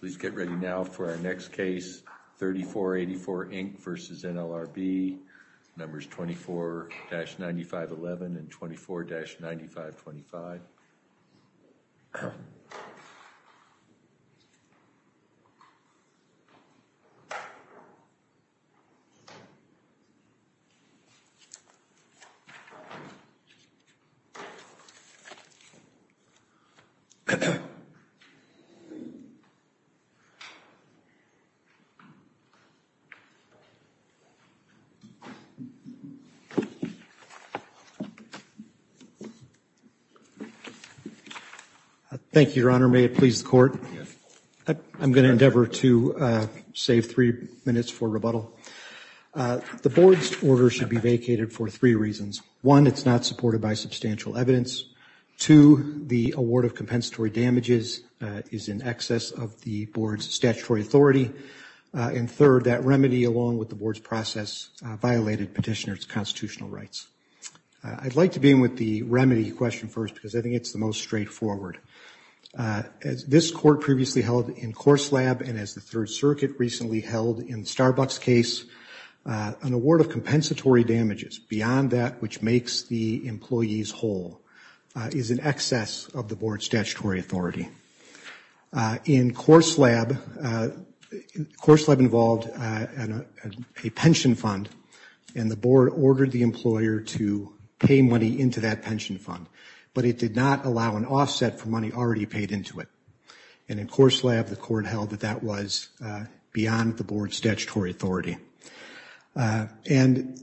Please get ready now for our next case, 3484, Inc. v. NLRB, numbers 24-9511 and 24-9525. Thank you, Your Honor. May it please the Court. I'm going to endeavor to save three minutes for rebuttal. The Board's order should be vacated for three reasons. One, it's not supported by substantial evidence. Two, the award of compensatory damages is in excess of the Board's statutory authority. And third, that remedy, along with the Board's process, violated petitioner's constitutional rights. I'd like to begin with the remedy question first because I think it's the most straightforward. As this Court previously held in Courts Lab and as the Third Circuit recently held in the Starbucks case, an award of compensatory damages beyond that which makes the employees whole is in excess of the Board's statutory authority. In Courts Lab, Courts Lab involved a pension fund and the Board ordered the employer to pay money into that pension fund, but it did not allow an offset for money already paid into it. And in Courts Lab, the Court held that that was beyond the Board's statutory authority. And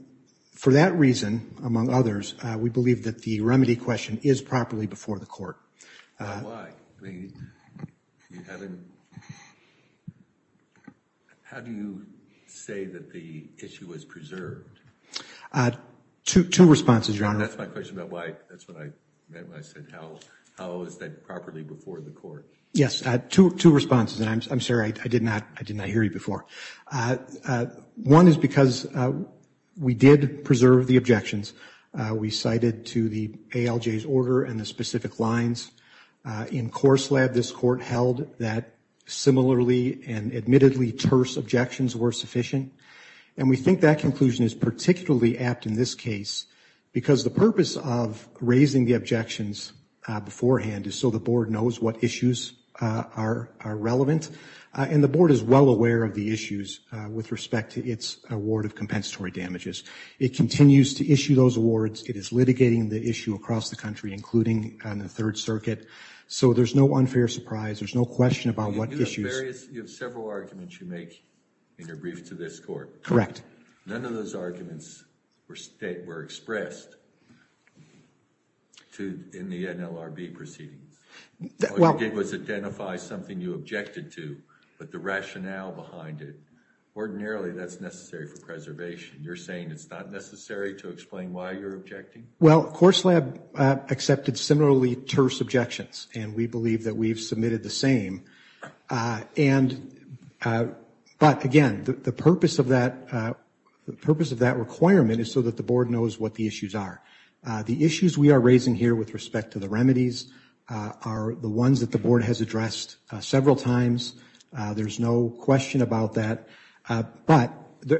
for that reason, among others, we believe that the remedy question is properly before the Court. Why? How do you say that the issue was preserved? Two responses, Your Honor. And that's my question about why, that's what I meant when I said how is that properly before the Court? Yes, two responses. And I'm sorry, I did not hear you before. One is because we did preserve the objections. We cited to the ALJ's order and the specific lines. In Courts Lab, this Court held that similarly and admittedly terse objections were sufficient. And we think that conclusion is particularly apt in this case because the purpose of raising the objections beforehand is so the Board knows what issues are relevant. And the Board is well aware of the issues with respect to its award of compensatory damages. It continues to issue those awards. It is litigating the issue across the country, including on the Third Circuit. So there's no unfair surprise. There's no question about what issues. You have several arguments you make in your brief to this Court. None of those arguments were expressed in the NLRB proceedings. All you did was identify something you objected to, but the rationale behind it. Ordinarily, that's necessary for preservation. You're saying it's not necessary to explain why you're objecting? Well, Courts Lab accepted similarly terse objections, and we believe that we've submitted the same. But again, the purpose of that requirement is so that the Board knows what the issues are. The issues we are raising here with respect to the remedies are the ones that the Board has addressed several times. There's no question about that. But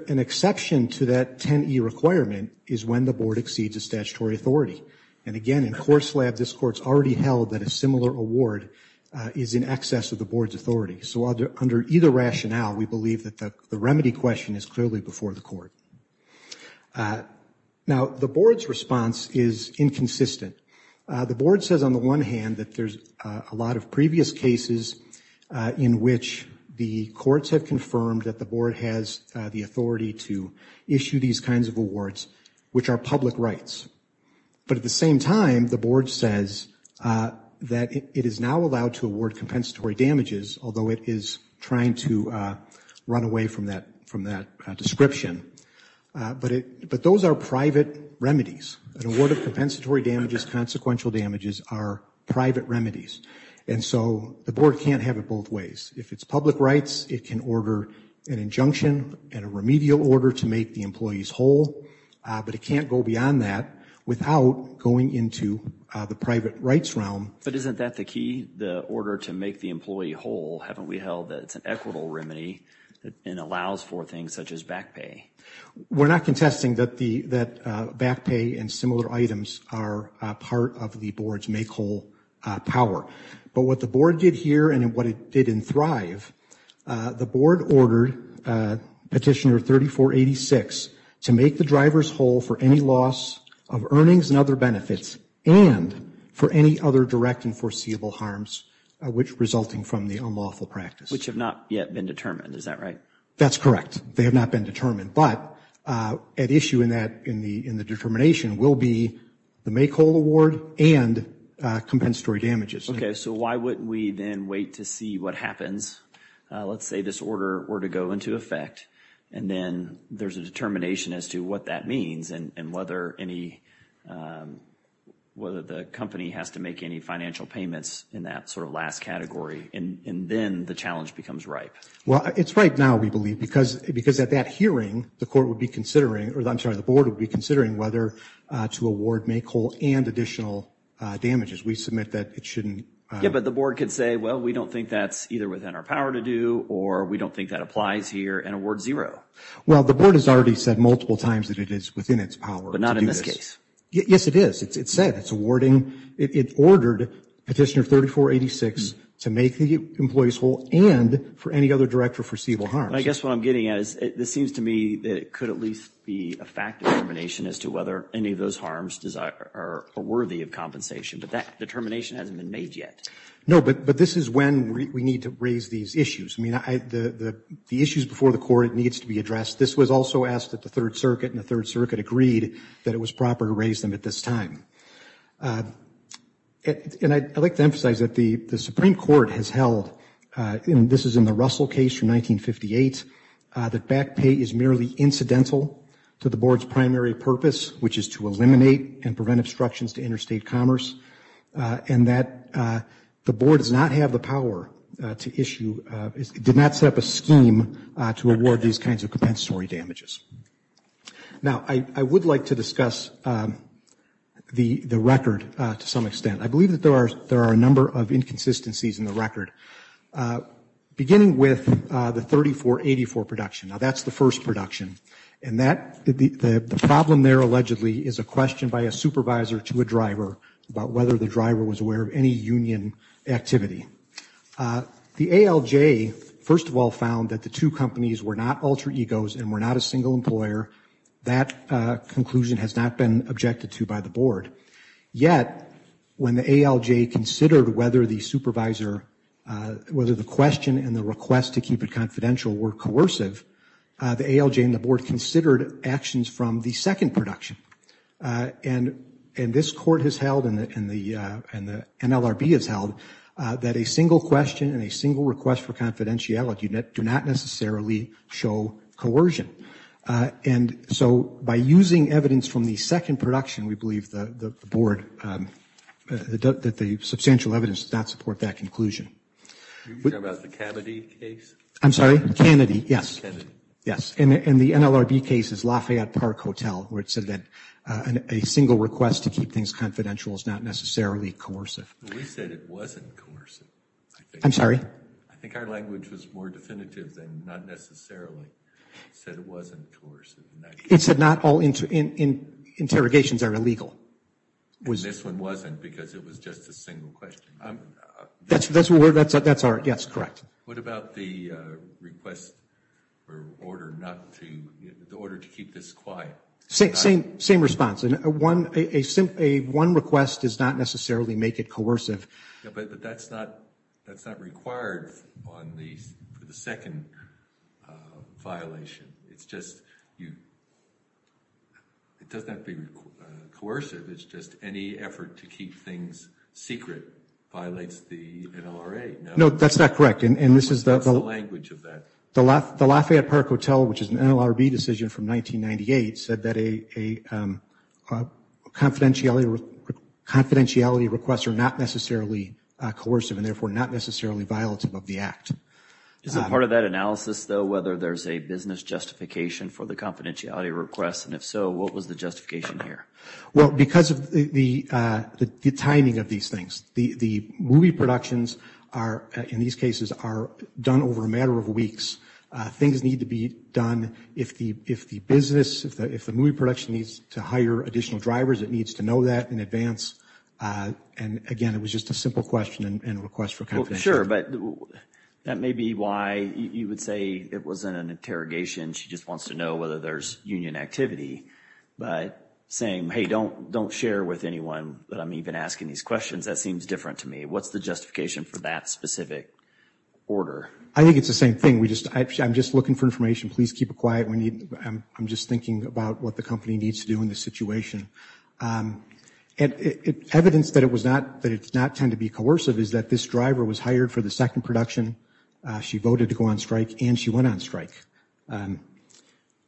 an exception to that 10e requirement is when the Board exceeds a statutory authority. And again, in Courts Lab, this Court's already held that a similar award is in excess of the Board's authority. So under either rationale, we believe that the remedy question is clearly before the Court. Now, the Board's response is inconsistent. The Board says on the one hand that there's a lot of previous cases in which the courts have confirmed that the Board has the authority to issue these kinds of awards, which are public rights. But at the same time, the Board says that it is now allowed to award compensatory damages, although it is trying to run away from that description. But those are private remedies. An award of compensatory damages, consequential damages, are private remedies. And so the Board can't have it both ways. If it's public rights, it can order an injunction and a remedial order to make the employees whole. But it can't go beyond that without going into the private rights realm. But isn't that the key, the order to make the employee whole? Haven't we held that it's an equitable remedy and allows for things such as back pay? We're not contesting that back pay and similar items are part of the Board's make whole power. But what the Board did here and what it did in Thrive, the Board ordered Petitioner 3486 to make the drivers whole for any loss of earnings and other benefits, and for any other direct and foreseeable harms resulting from the unlawful practice. Which have not yet been determined, is that right? That's correct. They have not been determined. But at issue in the determination will be the make whole award and compensatory damages. Okay, so why wouldn't we then wait to see what happens? Let's say this order were to go into effect and then there's a determination as to what that means and whether the company has to make any financial payments in that sort of last category. And then the challenge becomes ripe. Well, it's ripe now, we believe, because at that hearing, the Board would be considering whether to award make whole and additional damages. We submit that it shouldn't. Yeah, but the Board could say, well, we don't think that's either within our power to do or we don't think that applies here and award zero. Well, the Board has already said multiple times that it is within its power to do this. Yes, it is. It's said. It's awarded. It ordered Petitioner 3486 to make the employees whole and for any other direct or foreseeable harms. I guess what I'm getting at is this seems to me that it could at least be a fact determination as to whether any of those harms are worthy of compensation. But that determination hasn't been made yet. No, but this is when we need to raise these issues. I mean, the issues before the court needs to be addressed. This was also asked at the Third Circuit and the Third Circuit agreed that it was proper to raise them at this time. And I'd like to emphasize that the Supreme Court has held, and this is in the Russell case from 1958, that back pay is merely incidental to the Board's primary purpose, which is to eliminate and prevent obstructions to interstate commerce, and that the Board does not have the power to issue, did not set up a scheme to award these kinds of compensatory damages. Now, I would like to discuss the record to some extent. I believe that there are a number of inconsistencies in the record, beginning with the 3484 production. Now, that's the first production, and the problem there allegedly is a question by a supervisor to a driver about whether the driver was aware of any union activity. The ALJ, first of all, found that the two companies were not alter egos and were not a single employer. That conclusion has not been objected to by the Board. Yet, when the ALJ considered whether the supervisor, whether the question and the request to keep it confidential were coercive, the ALJ and the Board considered actions from the second production. And this Court has held, and the NLRB has held, that a single question and a single request for confidentiality do not necessarily show coercion. And so, by using evidence from the second production, we believe the Board, that the substantial evidence does not support that conclusion. Can you talk about the Kennedy case? I'm sorry? Kennedy, yes. And the NLRB case is Lafayette Park Hotel, where it said that a single request to keep things confidential is not necessarily coercive. We said it wasn't coercive. I'm sorry? I think our language was more definitive than not necessarily. It said it wasn't coercive. It said not all interrogations are illegal. And this one wasn't because it was just a single question. That's correct. What about the request or order to keep this quiet? Same response. One request does not necessarily make it coercive. But that's not required for the second violation. It's just, it doesn't have to be coercive. It's just any effort to keep things secret violates the NLRA. No, that's not correct. What's the language of that? The Lafayette Park Hotel, which is an NLRB decision from 1998, said that confidentiality requests are not necessarily coercive and therefore not necessarily violative of the act. Is a part of that analysis, though, whether there's a business justification for the confidentiality request? And if so, what was the justification here? Well, because of the timing of these things. The movie productions are, in these cases, are done over a matter of weeks. Things need to be done. If the business, if the movie production needs to hire additional drivers, it needs to know that in advance. And, again, it was just a simple question and request for confidentiality. Sure, but that may be why you would say it wasn't an interrogation. She just wants to know whether there's union activity. But saying, hey, don't share with anyone that I'm even asking these questions, that seems different to me. What's the justification for that specific order? I think it's the same thing. I'm just looking for information. Please keep it quiet. I'm just thinking about what the company needs to do in this situation. Evidence that it does not tend to be coercive is that this driver was hired for the second production. She voted to go on strike, and she went on strike.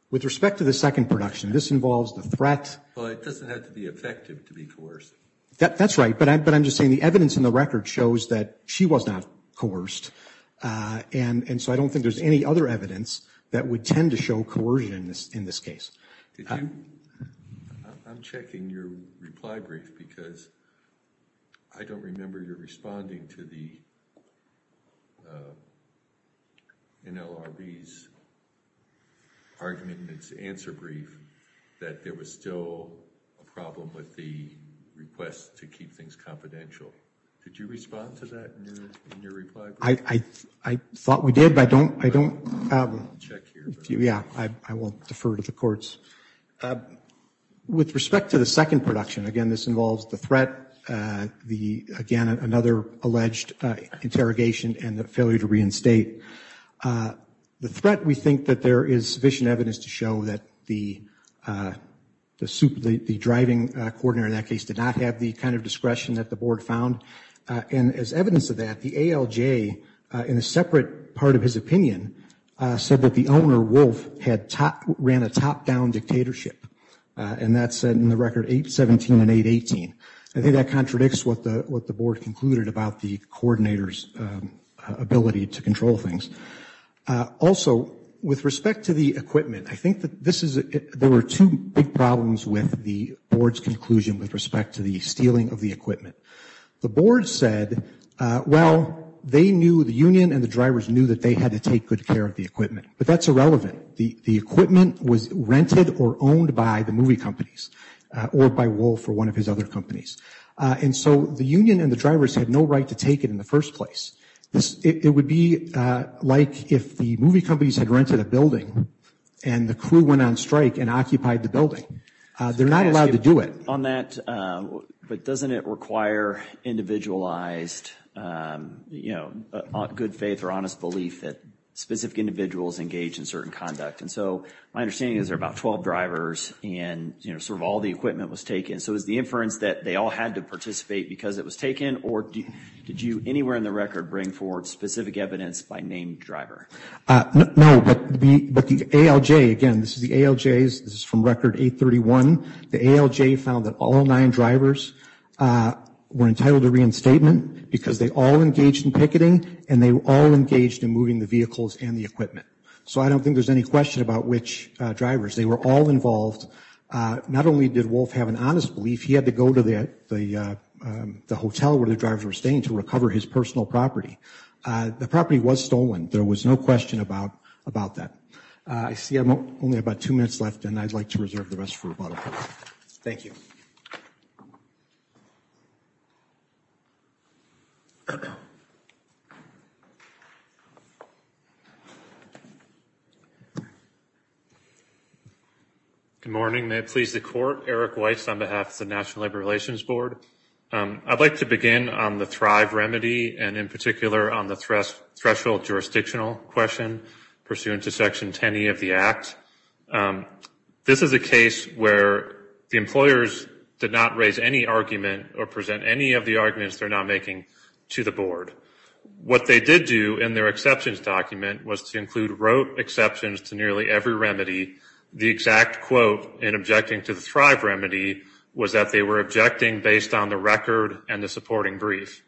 With respect to the second production, this involves the threat. Well, it doesn't have to be effective to be coercive. That's right. But I'm just saying the evidence in the record shows that she was not coerced. And so I don't think there's any other evidence that would tend to show coercion in this case. I'm checking your reply brief because I don't remember your responding to the NLRB's argument in its answer brief that there was still a problem with the request to keep things confidential. Did you respond to that in your reply brief? I thought we did, but I don't check here. Yeah, I will defer to the courts. With respect to the second production, again, this involves the threat, again, another alleged interrogation and the failure to reinstate. The threat, we think that there is sufficient evidence to show that the driving coordinator in that case did not have the kind of discretion that the board found. And as evidence of that, the ALJ, in a separate part of his opinion, said that the owner, Wolf, ran a top-down dictatorship. And that's in the record 817 and 818. I think that contradicts what the board concluded about the coordinator's ability to control things. Also, with respect to the equipment, I think that there were two big problems with the board's conclusion with respect to the stealing of the equipment. The board said, well, they knew, the union and the drivers knew that they had to take good care of the equipment. But that's irrelevant. The equipment was rented or owned by the movie companies or by Wolf or one of his other companies. And so the union and the drivers had no right to take it in the first place. It would be like if the movie companies had rented a building and the crew went on strike and occupied the building. They're not allowed to do it. On that, but doesn't it require individualized, you know, good faith or honest belief that specific individuals engage in certain conduct? And so my understanding is there are about 12 drivers and, you know, sort of all the equipment was taken. So is the inference that they all had to participate because it was taken, or did you anywhere in the record bring forward specific evidence by named driver? No, but the ALJ, again, this is the ALJ's. This is from record 831. The ALJ found that all nine drivers were entitled to reinstatement because they all engaged in picketing and they were all engaged in moving the vehicles and the equipment. So I don't think there's any question about which drivers. They were all involved. Not only did Wolf have an honest belief, he had to go to the hotel where the drivers were staying to recover his personal property. The property was stolen. There was no question about that. I see I'm only about two minutes left, and I'd like to reserve the rest for rebuttal. Thank you. Good morning. May it please the Court. Eric Weiss on behalf of the National Labor Relations Board. I'd like to begin on the Thrive remedy and in particular on the threshold jurisdictional question pursuant to Section 10e of the Act. This is a case where the employers did not raise any argument or present any of the arguments they're now making to the Board. What they did do in their exceptions document was to include rote exceptions to nearly every remedy. The exact quote in objecting to the Thrive remedy was that they were objecting based on the record and the supporting brief.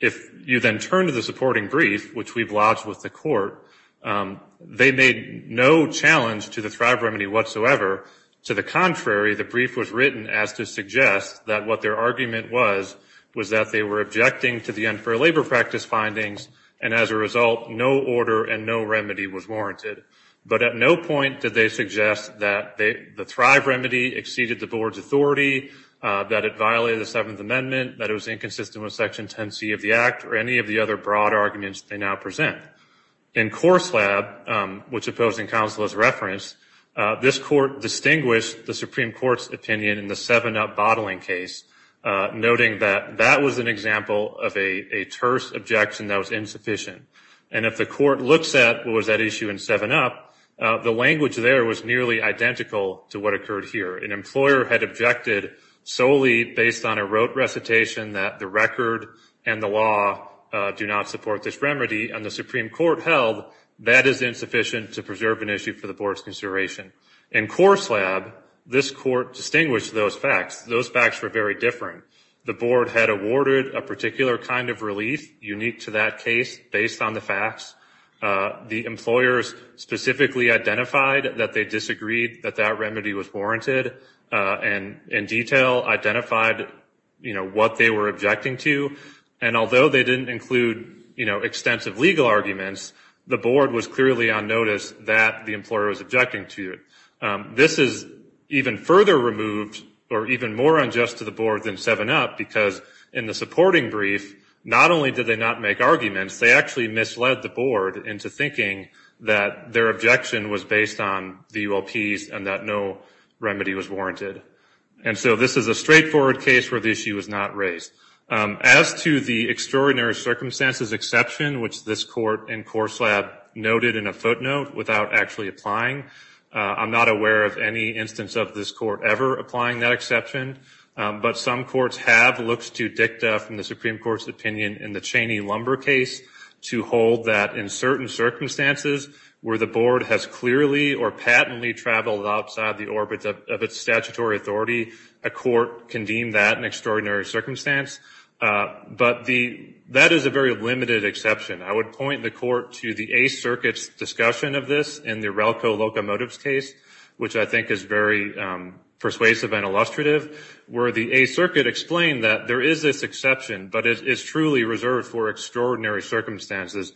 If you then turn to the supporting brief, which we've lodged with the Court, they made no challenge to the Thrive remedy whatsoever. To the contrary, the brief was written as to suggest that what their argument was was that they were objecting to the unfair labor practice findings, and as a result, no order and no remedy was warranted. But at no point did they suggest that the Thrive remedy exceeded the Board's authority, that it violated the Seventh Amendment, that it was inconsistent with Section 10c of the Act, or any of the other broad arguments they now present. In Courts Lab, which opposing counsel has referenced, this Court distinguished the Supreme Court's opinion in the 7-up bottling case, noting that that was an example of a terse objection that was insufficient. And if the Court looks at what was at issue in 7-up, the language there was nearly identical to what occurred here. An employer had objected solely based on a rote recitation that the record and the law do not support this remedy, and the Supreme Court held that is insufficient to preserve an issue for the Board's consideration. In Courts Lab, this Court distinguished those facts. Those facts were very different. The Board had awarded a particular kind of relief unique to that case based on the facts. The employers specifically identified that they disagreed that that remedy was warranted, and in detail identified, you know, what they were objecting to. And although they didn't include, you know, extensive legal arguments, the Board was clearly on notice that the employer was objecting to it. This is even further removed or even more unjust to the Board than 7-up because in the supporting brief, not only did they not make arguments, they actually misled the Board into thinking that their objection was based on the ULPs and that no remedy was warranted. And so this is a straightforward case where the issue was not raised. As to the extraordinary circumstances exception, which this Court in Courts Lab noted in a footnote without actually applying, I'm not aware of any instance of this Court ever applying that exception, but some courts have looked to dicta from the Supreme Court's opinion in the Cheney-Lumber case to hold that in certain circumstances where the Board has clearly or patently traveled outside the orbit of its statutory authority, a court can deem that an extraordinary circumstance. But that is a very limited exception. I would point the Court to the Eighth Circuit's discussion of this in the Relco Locomotives case, which I think is very persuasive and illustrative, where the Eighth Circuit explained that there is this exception, but it is truly reserved for extraordinary circumstances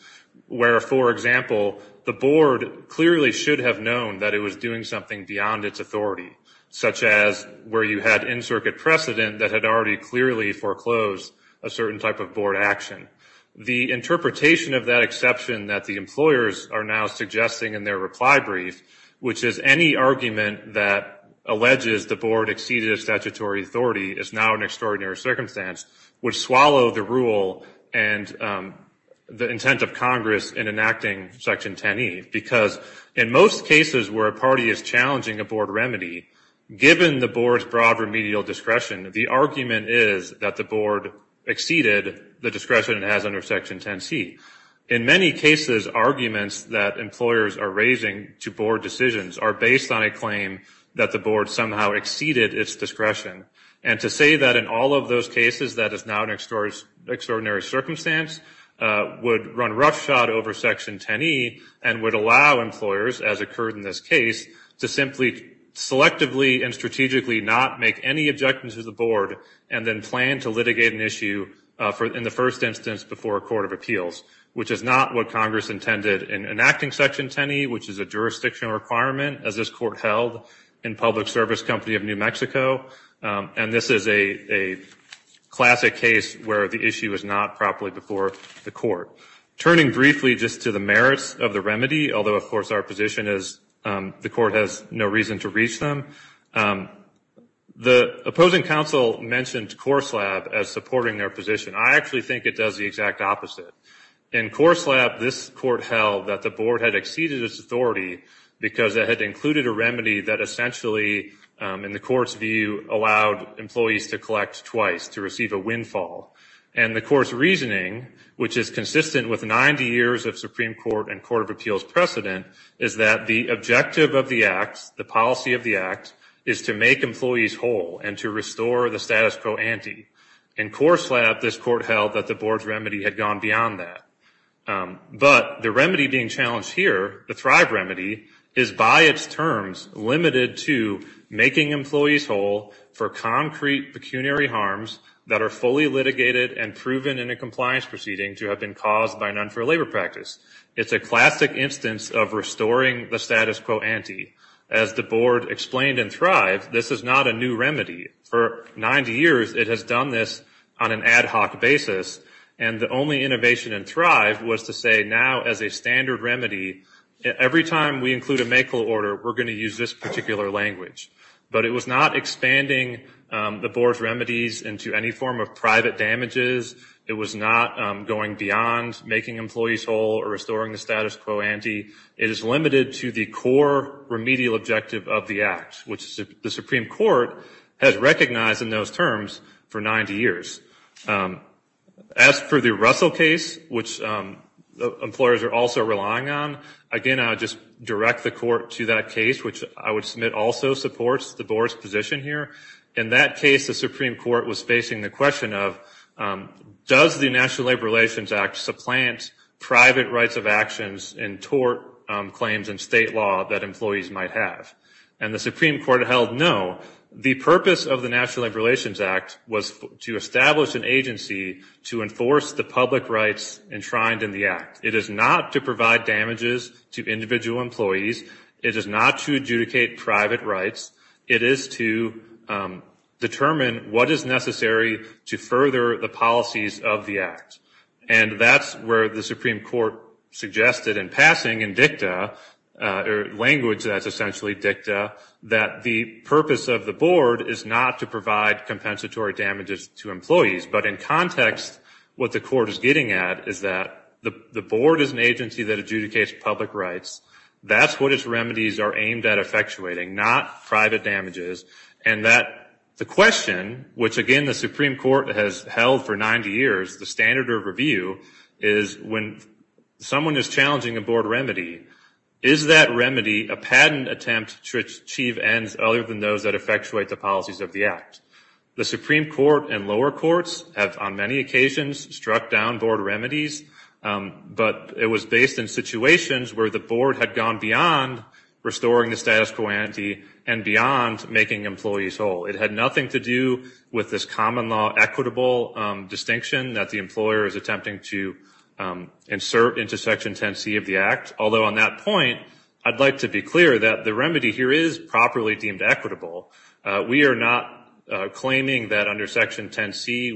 where, for example, the Board clearly should have known that it was doing something beyond its authority, such as where you had in-circuit precedent that had already clearly foreclosed a certain type of Board action. The interpretation of that exception that the employers are now suggesting in their reply brief, which is any argument that alleges the Board exceeded its statutory authority is now an extraordinary circumstance, would swallow the rule and the intent of Congress in enacting Section 10e, because in most cases where a party is challenging a Board remedy, given the Board's broad remedial discretion, the argument is that the Board exceeded the discretion it has under Section 10c. In many cases, arguments that employers are raising to Board decisions are based on a claim that the Board somehow exceeded its discretion. And to say that in all of those cases, that is now an extraordinary circumstance, would run roughshod over Section 10e and would allow employers, as occurred in this case, to simply selectively and strategically not make any objections to the Board and then plan to litigate an issue in the first instance before a court of appeals, which is not what Congress intended in enacting Section 10e, which is a jurisdictional requirement, as this Court held in Public Service Company of New Mexico. And this is a classic case where the issue is not properly before the Court. Turning briefly just to the merits of the remedy, although, of course, our position is the Court has no reason to reach them, the opposing counsel mentioned Course Lab as supporting their position. I actually think it does the exact opposite. In Course Lab, this Court held that the Board had exceeded its authority because it had included a remedy that essentially, in the Court's view, allowed employees to collect twice to receive a windfall. And the Court's reasoning, which is consistent with 90 years of Supreme Court and Court of Appeals precedent, is that the objective of the act, the policy of the act, is to make employees whole and to restore the status quo ante. In Course Lab, this Court held that the Board's remedy had gone beyond that. But the remedy being challenged here, the Thrive remedy, is by its terms limited to making employees whole for concrete pecuniary harms that are fully litigated and proven in a compliance proceeding to have been caused by an unfair labor practice. It's a classic instance of restoring the status quo ante. As the Board explained in Thrive, this is not a new remedy. For 90 years, it has done this on an ad hoc basis. And the only innovation in Thrive was to say now, as a standard remedy, every time we include a MAKL order, we're going to use this particular language. But it was not expanding the Board's remedies into any form of private damages. It was not going beyond making employees whole or restoring the status quo ante. It is limited to the core remedial objective of the act, which the Supreme Court has recognized in those terms for 90 years. As for the Russell case, which employers are also relying on, again, I would just direct the Court to that case, which I would submit also supports the Board's position here. In that case, the Supreme Court was facing the question of, does the National Labor Relations Act supplant private rights of actions and tort claims in state law that employees might have? And the Supreme Court held no. The purpose of the National Labor Relations Act was to establish an agency to enforce the public rights enshrined in the act. It is not to provide damages to individual employees. It is not to adjudicate private rights. It is to determine what is necessary to further the policies of the act. And that's where the Supreme Court suggested in passing in dicta, or language that's essentially dicta, that the purpose of the Board is not to provide compensatory damages to employees. But in context, what the Court is getting at is that the Board is an agency that adjudicates public rights. That's what its remedies are aimed at effectuating, not private damages. And the question, which, again, the Supreme Court has held for 90 years, the standard of review, is when someone is challenging a Board remedy, is that remedy a patent attempt to achieve ends other than those that effectuate the policies of the act? The Supreme Court and lower courts have, on many occasions, struck down Board remedies, but it was based in situations where the Board had gone beyond restoring the status quo ante and beyond making employees whole. It had nothing to do with this common law equitable distinction that the employer is attempting to insert into Section 10C of the act, although on that point, I'd like to be clear that the remedy here is properly deemed equitable. We are not claiming that under Section 10C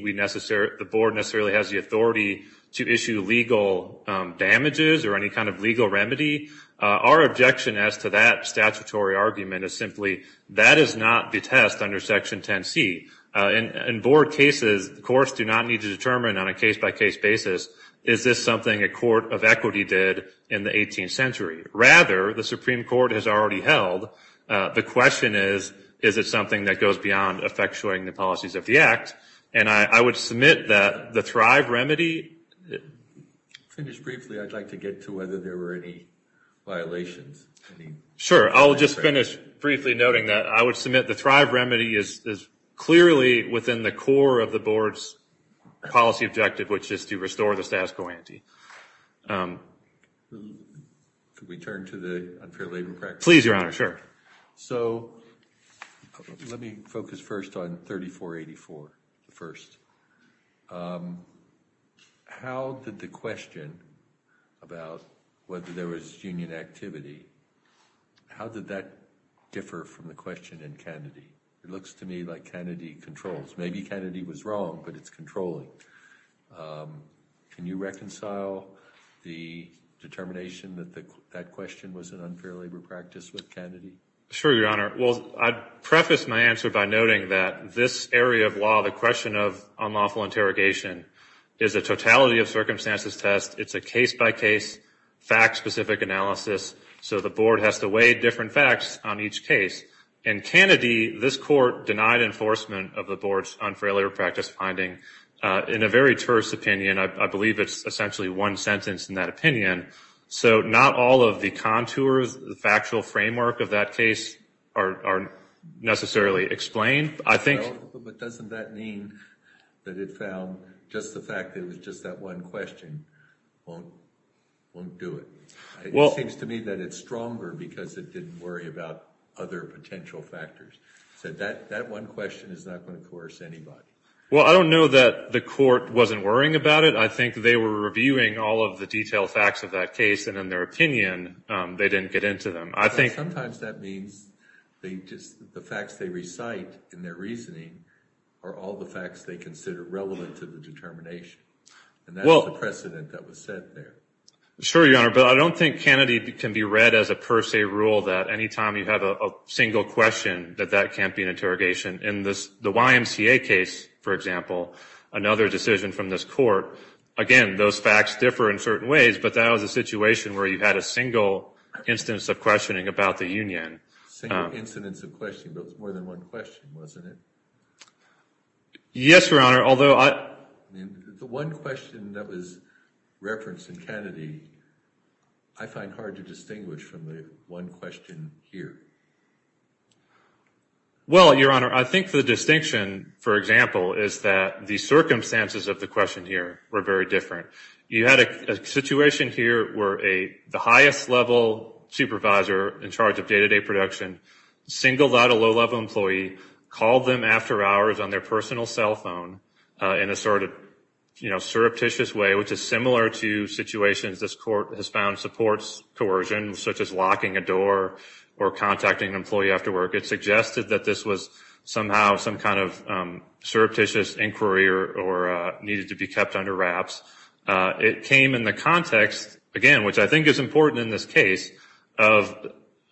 the Board necessarily has the authority to issue legal damages or any kind of legal remedy. Our objection as to that statutory argument is simply that is not the test under Section 10C. In Board cases, the courts do not need to determine on a case-by-case basis, is this something a court of equity did in the 18th century? Rather, the Supreme Court has already held the question is, is it something that goes beyond effectuating the policies of the act? And I would submit that the Thrive remedy... To finish briefly, I'd like to get to whether there were any violations. Sure. I'll just finish briefly noting that I would submit the Thrive remedy is clearly within the core of the Board's policy objective, which is to restore the status quo ante. Could we turn to the unfair labor practice? Please, Your Honor. Sure. So let me focus first on 3484, the first. How did the question about whether there was union activity, how did that differ from the question in Kennedy? It looks to me like Kennedy controls. Maybe Kennedy was wrong, but it's controlling. Can you reconcile the determination that that question was an unfair labor practice with Kennedy? Sure, Your Honor. Well, I'd preface my answer by noting that this area of law, the question of unlawful interrogation, is a totality of circumstances test. It's a case-by-case, fact-specific analysis, so the Board has to weigh different facts on each case. In Kennedy, this Court denied enforcement of the Board's unfair labor practice finding in a very terse opinion. I believe it's essentially one sentence in that opinion. So not all of the contours, the factual framework of that case, are necessarily explained. But doesn't that mean that it found just the fact that it was just that one question won't do it? It seems to me that it's stronger because it didn't worry about other potential factors. So that one question is not going to coerce anybody. Well, I don't know that the Court wasn't worrying about it. I think they were reviewing all of the detailed facts of that case, and in their opinion, they didn't get into them. Sometimes that means the facts they recite in their reasoning are all the facts they consider relevant to the determination, and that's the precedent that was set there. Sure, Your Honor, but I don't think Kennedy can be read as a per se rule that any time you have a single question that that can't be an interrogation. In the YMCA case, for example, another decision from this Court, again, those facts differ in certain ways, but that was a situation where you had a single instance of questioning about the Union. Single incidence of questioning, but it was more than one question, wasn't it? Yes, Your Honor, although I... The one question that was referenced in Kennedy, I find hard to distinguish from the one question here. Well, Your Honor, I think the distinction, for example, is that the circumstances of the question here were very different. You had a situation here where the highest level supervisor in charge of day-to-day production singled out a low-level employee, called them after hours on their personal cell phone in a sort of surreptitious way, which is similar to situations this Court has found supports coercion, such as locking a door or contacting an employee after work. It suggested that this was somehow some kind of surreptitious inquiry or needed to be kept under wraps. It came in the context, again, which I think is important in this case, of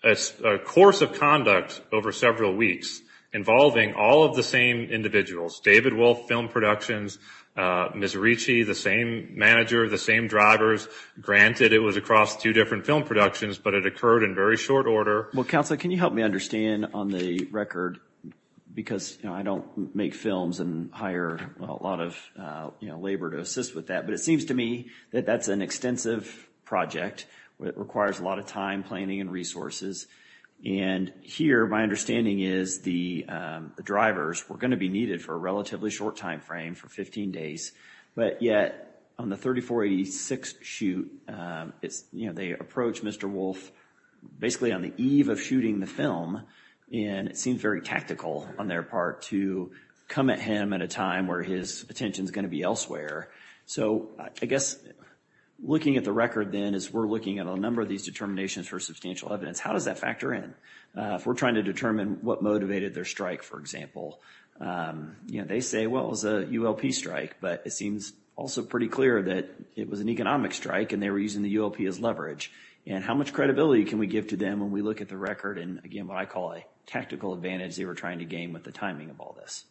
a course of conduct over several weeks involving all of the same individuals, David Wolf, film productions, Ms. Ricci, the same manager, the same drivers. Granted, it was across two different film productions, but it occurred in very short order. Well, Counselor, can you help me understand on the record? Because I don't make films and hire a lot of labor to assist with that, but it seems to me that that's an extensive project. It requires a lot of time, planning, and resources. And here, my understanding is the drivers were going to be needed for a relatively short time frame, for 15 days. But yet, on the 3486 shoot, they approach Mr. Wolf basically on the eve of shooting the film, and it seems very tactical on their part to come at him at a time where his attention is going to be elsewhere. So I guess looking at the record, then, as we're looking at a number of these determinations for substantial evidence, how does that factor in? If we're trying to determine what motivated their strike, for example, they say, well, it was a ULP strike, but it seems also pretty clear that it was an economic strike and they were using the ULP as leverage. And how much credibility can we give to them when we look at the record and, again, what I call a tactical advantage they were trying to gain with the timing of all this?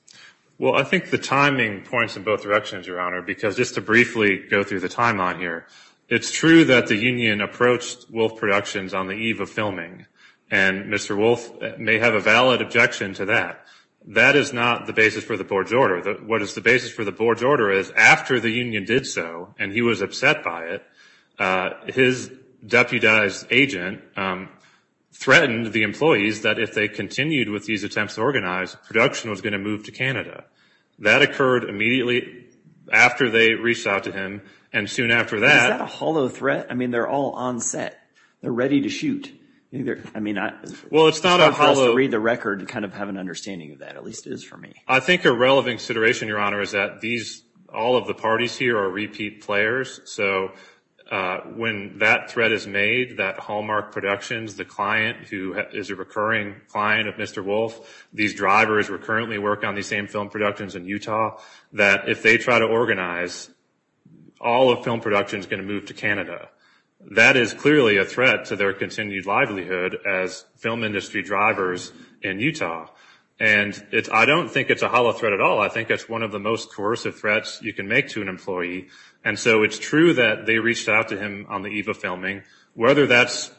Well, I think the timing points in both directions, Your Honor, because just to briefly go through the timeline here, it's true that the union approached Wolf Productions on the eve of filming, and Mr. Wolf may have a valid objection to that. That is not the basis for the board's order. What is the basis for the board's order is after the union did so, and he was upset by it, his deputized agent threatened the employees that if they continued with these attempts to organize, production was going to move to Canada. That occurred immediately after they reached out to him, and soon after that. Is that a hollow threat? I mean, they're all on set. They're ready to shoot. Well, it's not a hollow. I'm supposed to read the record to kind of have an understanding of that. At least it is for me. I think a relevant consideration, Your Honor, is that all of the parties here are repeat players. So when that threat is made, that Hallmark Productions, the client who is a recurring client of Mr. Wolf, these drivers recurrently work on these same film productions in Utah, that if they try to organize, all of film production is going to move to Canada. That is clearly a threat to their continued livelihood as film industry drivers in Utah. And I don't think it's a hollow threat at all. I think it's one of the most coercive threats you can make to an employee. And so it's true that they reached out to him on the eve of filming. Whether that's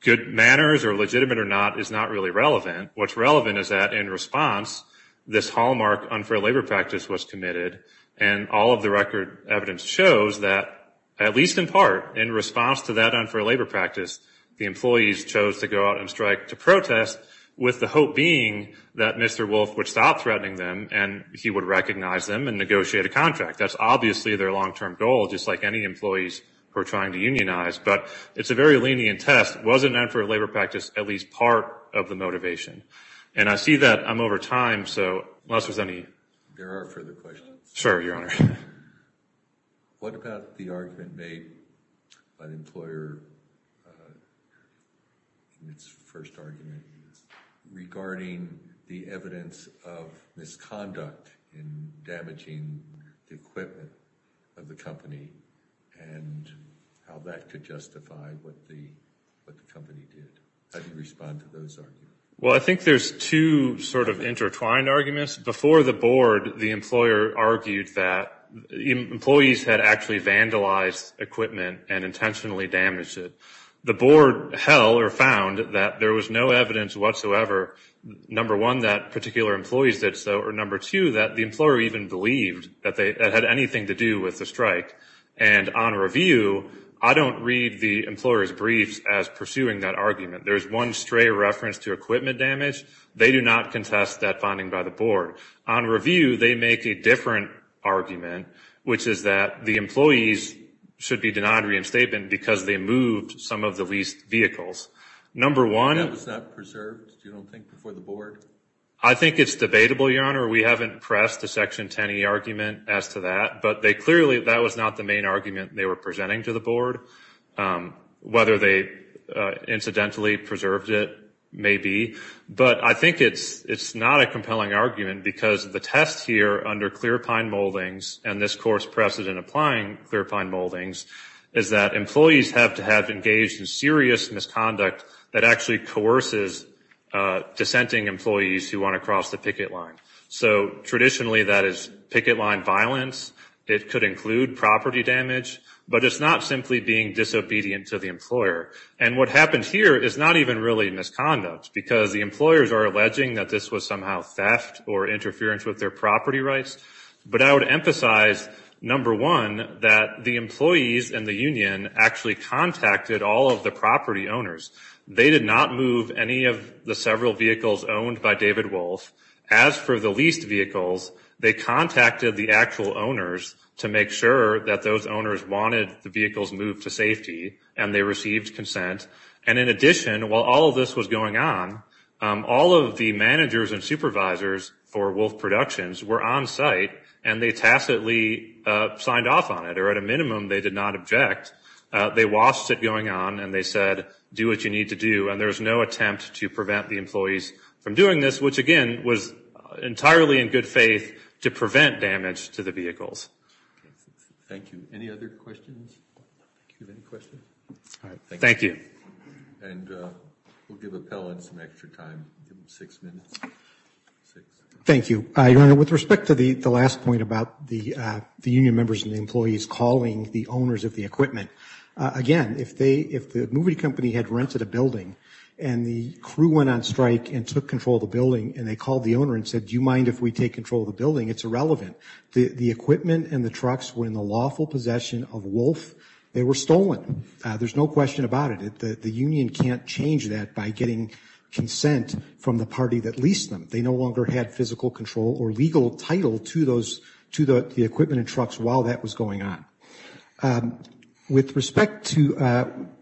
good manners or legitimate or not is not really relevant. What's relevant is that in response, this Hallmark unfair labor practice was committed, and all of the record evidence shows that, at least in part, in response to that unfair labor practice, the employees chose to go out and strike to protest, with the hope being that Mr. Wolf would stop threatening them and he would recognize them and negotiate a contract. That's obviously their long-term goal, just like any employees who are trying to unionize. But it's a very lenient test. Was an unfair labor practice at least part of the motivation? And I see that I'm over time, so unless there's any... Sure, Your Honor. What about the argument made by the employer in its first argument regarding the evidence of misconduct in damaging the equipment of the company and how that could justify what the company did? How do you respond to those arguments? Well, I think there's two sort of intertwined arguments. Before the board, the employer argued that employees had actually vandalized equipment and intentionally damaged it. The board held or found that there was no evidence whatsoever, number one, that particular employees did so, or number two, that the employer even believed that it had anything to do with the strike. And on review, I don't read the employer's briefs as pursuing that argument. There's one stray reference to equipment damage. They do not contest that finding by the board. On review, they make a different argument, which is that the employees should be denied reinstatement because they moved some of the leased vehicles. That was not preserved, you don't think, before the board? I think it's debatable, Your Honor. We haven't pressed the Section 10e argument as to that, but clearly that was not the main argument they were presenting to the board, whether they incidentally preserved it, maybe. But I think it's not a compelling argument because the test here under clear pine moldings and this course precedent applying clear pine moldings is that employees have to have engaged in serious misconduct that actually coerces dissenting employees who want to cross the picket line. So traditionally that is picket line violence. It could include property damage, but it's not simply being disobedient to the employer. And what happened here is not even really misconduct because the employers are alleging that this was somehow theft or interference with their property rights. But I would emphasize, number one, that the employees and the union actually contacted all of the property owners. They did not move any of the several vehicles owned by David Wolf. As for the leased vehicles, they contacted the actual owners to make sure that those owners wanted the vehicles moved to safety and they received consent. And in addition, while all of this was going on, all of the managers and supervisors for Wolf Productions were on site and they tacitly signed off on it, or at a minimum they did not object. They watched it going on and they said, do what you need to do. And there was no attempt to prevent the employees from doing this, which again was entirely in good faith to prevent damage to the vehicles. Thank you. Any other questions? All right. Thank you. And we'll give Appellant some extra time. Give him six minutes. Thank you. Your Honor, with respect to the last point about the union members and the employees calling the owners of the equipment, again, if the movie company had rented a building and the crew went on strike and took control of the building and they called the owner and said, do you mind if we take control of the building, it's irrelevant. The equipment and the trucks were in the lawful possession of Wolf. They were stolen. There's no question about it. The union can't change that by getting consent from the party that leased them. They no longer had physical control or legal title to those, to the equipment and trucks while that was going on. With respect to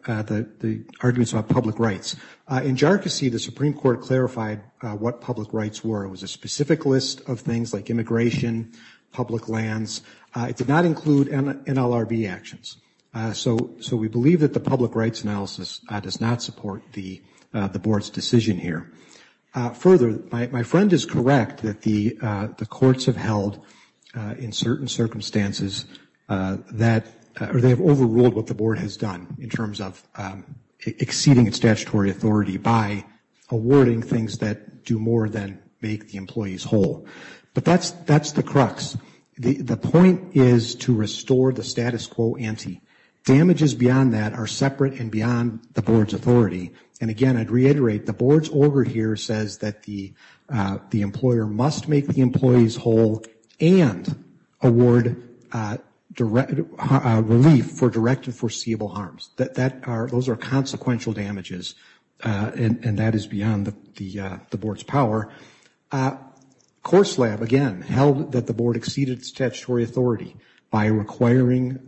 the arguments about public rights, in jarcossy the Supreme Court clarified what public rights were. There was a specific list of things like immigration, public lands. It did not include NLRB actions. So we believe that the public rights analysis does not support the Board's decision here. Further, my friend is correct that the courts have held in certain circumstances that, or they have overruled what the Board has done in terms of exceeding its statutory authority by awarding things that do more than make the employees whole. But that's the crux. The point is to restore the status quo ante. Damages beyond that are separate and beyond the Board's authority. And again, I'd reiterate, the Board's order here says that the employer must make the employees whole and award relief for direct and foreseeable harms. Those are consequential damages. And that is beyond the Board's power. Course Lab, again, held that the Board exceeded its statutory authority by requiring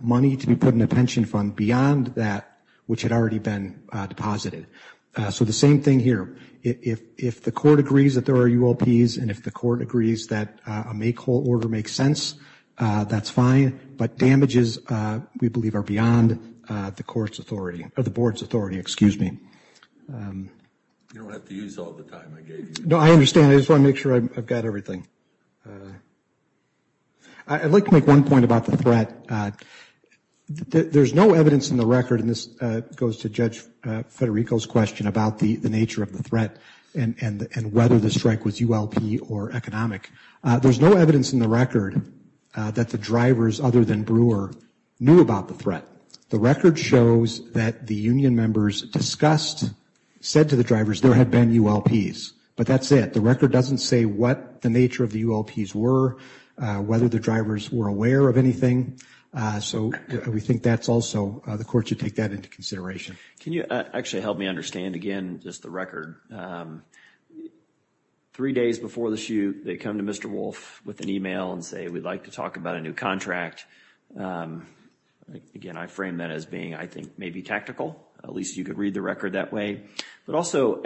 money to be put in a pension fund beyond that which had already been deposited. So the same thing here. If the court agrees that there are UOPs and if the court agrees that a make whole order makes sense, that's fine. But damages, we believe, are beyond the Board's authority. You don't have to use all the time I gave you. No, I understand. I just want to make sure I've got everything. I'd like to make one point about the threat. There's no evidence in the record, and this goes to Judge Federico's question about the nature of the threat and whether the strike was UOP or economic. There's no evidence in the record that the drivers, other than Brewer, knew about the threat. The record shows that the union members discussed, said to the drivers there had been UOPs. But that's it. The record doesn't say what the nature of the UOPs were, whether the drivers were aware of anything. So we think that's also, the court should take that into consideration. Can you actually help me understand, again, just the record? Three days before the shoot, they come to Mr. Wolf with an email and say, we'd like to talk about a new contract. Again, I frame that as being, I think, maybe tactical. At least you could read the record that way. But also,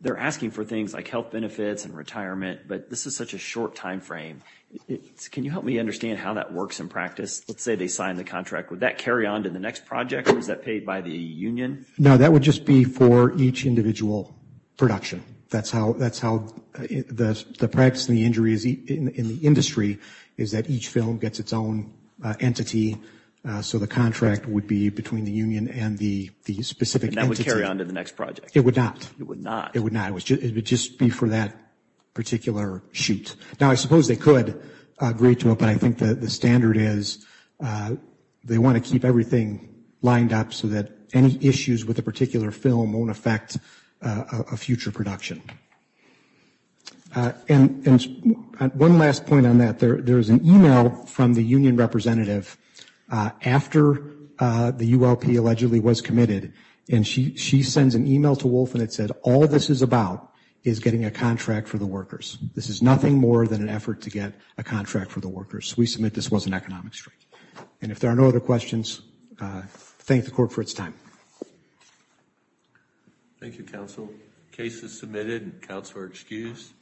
they're asking for things like health benefits and retirement, but this is such a short time frame. Can you help me understand how that works in practice? Let's say they sign the contract. Would that carry on to the next project, or is that paid by the union? No, that would just be for each individual production. That's how the practice in the industry is that each film gets its own entity. So the contract would be between the union and the specific entity. And that would carry on to the next project? It would not. It would not? It would not. It would just be for that particular shoot. Now, I suppose they could agree to it, but I think the standard is they want to keep everything lined up so that any issues with a particular film won't affect a future production. And one last point on that. There is an email from the union representative after the ULP allegedly was committed, and she sends an email to Wolf and it said, all this is about is getting a contract for the workers. This is nothing more than an effort to get a contract for the workers. We submit this was an economic strike. And if there are no other questions, thank the court for its time. Thank you, counsel. Case is submitted. Counsel are excused.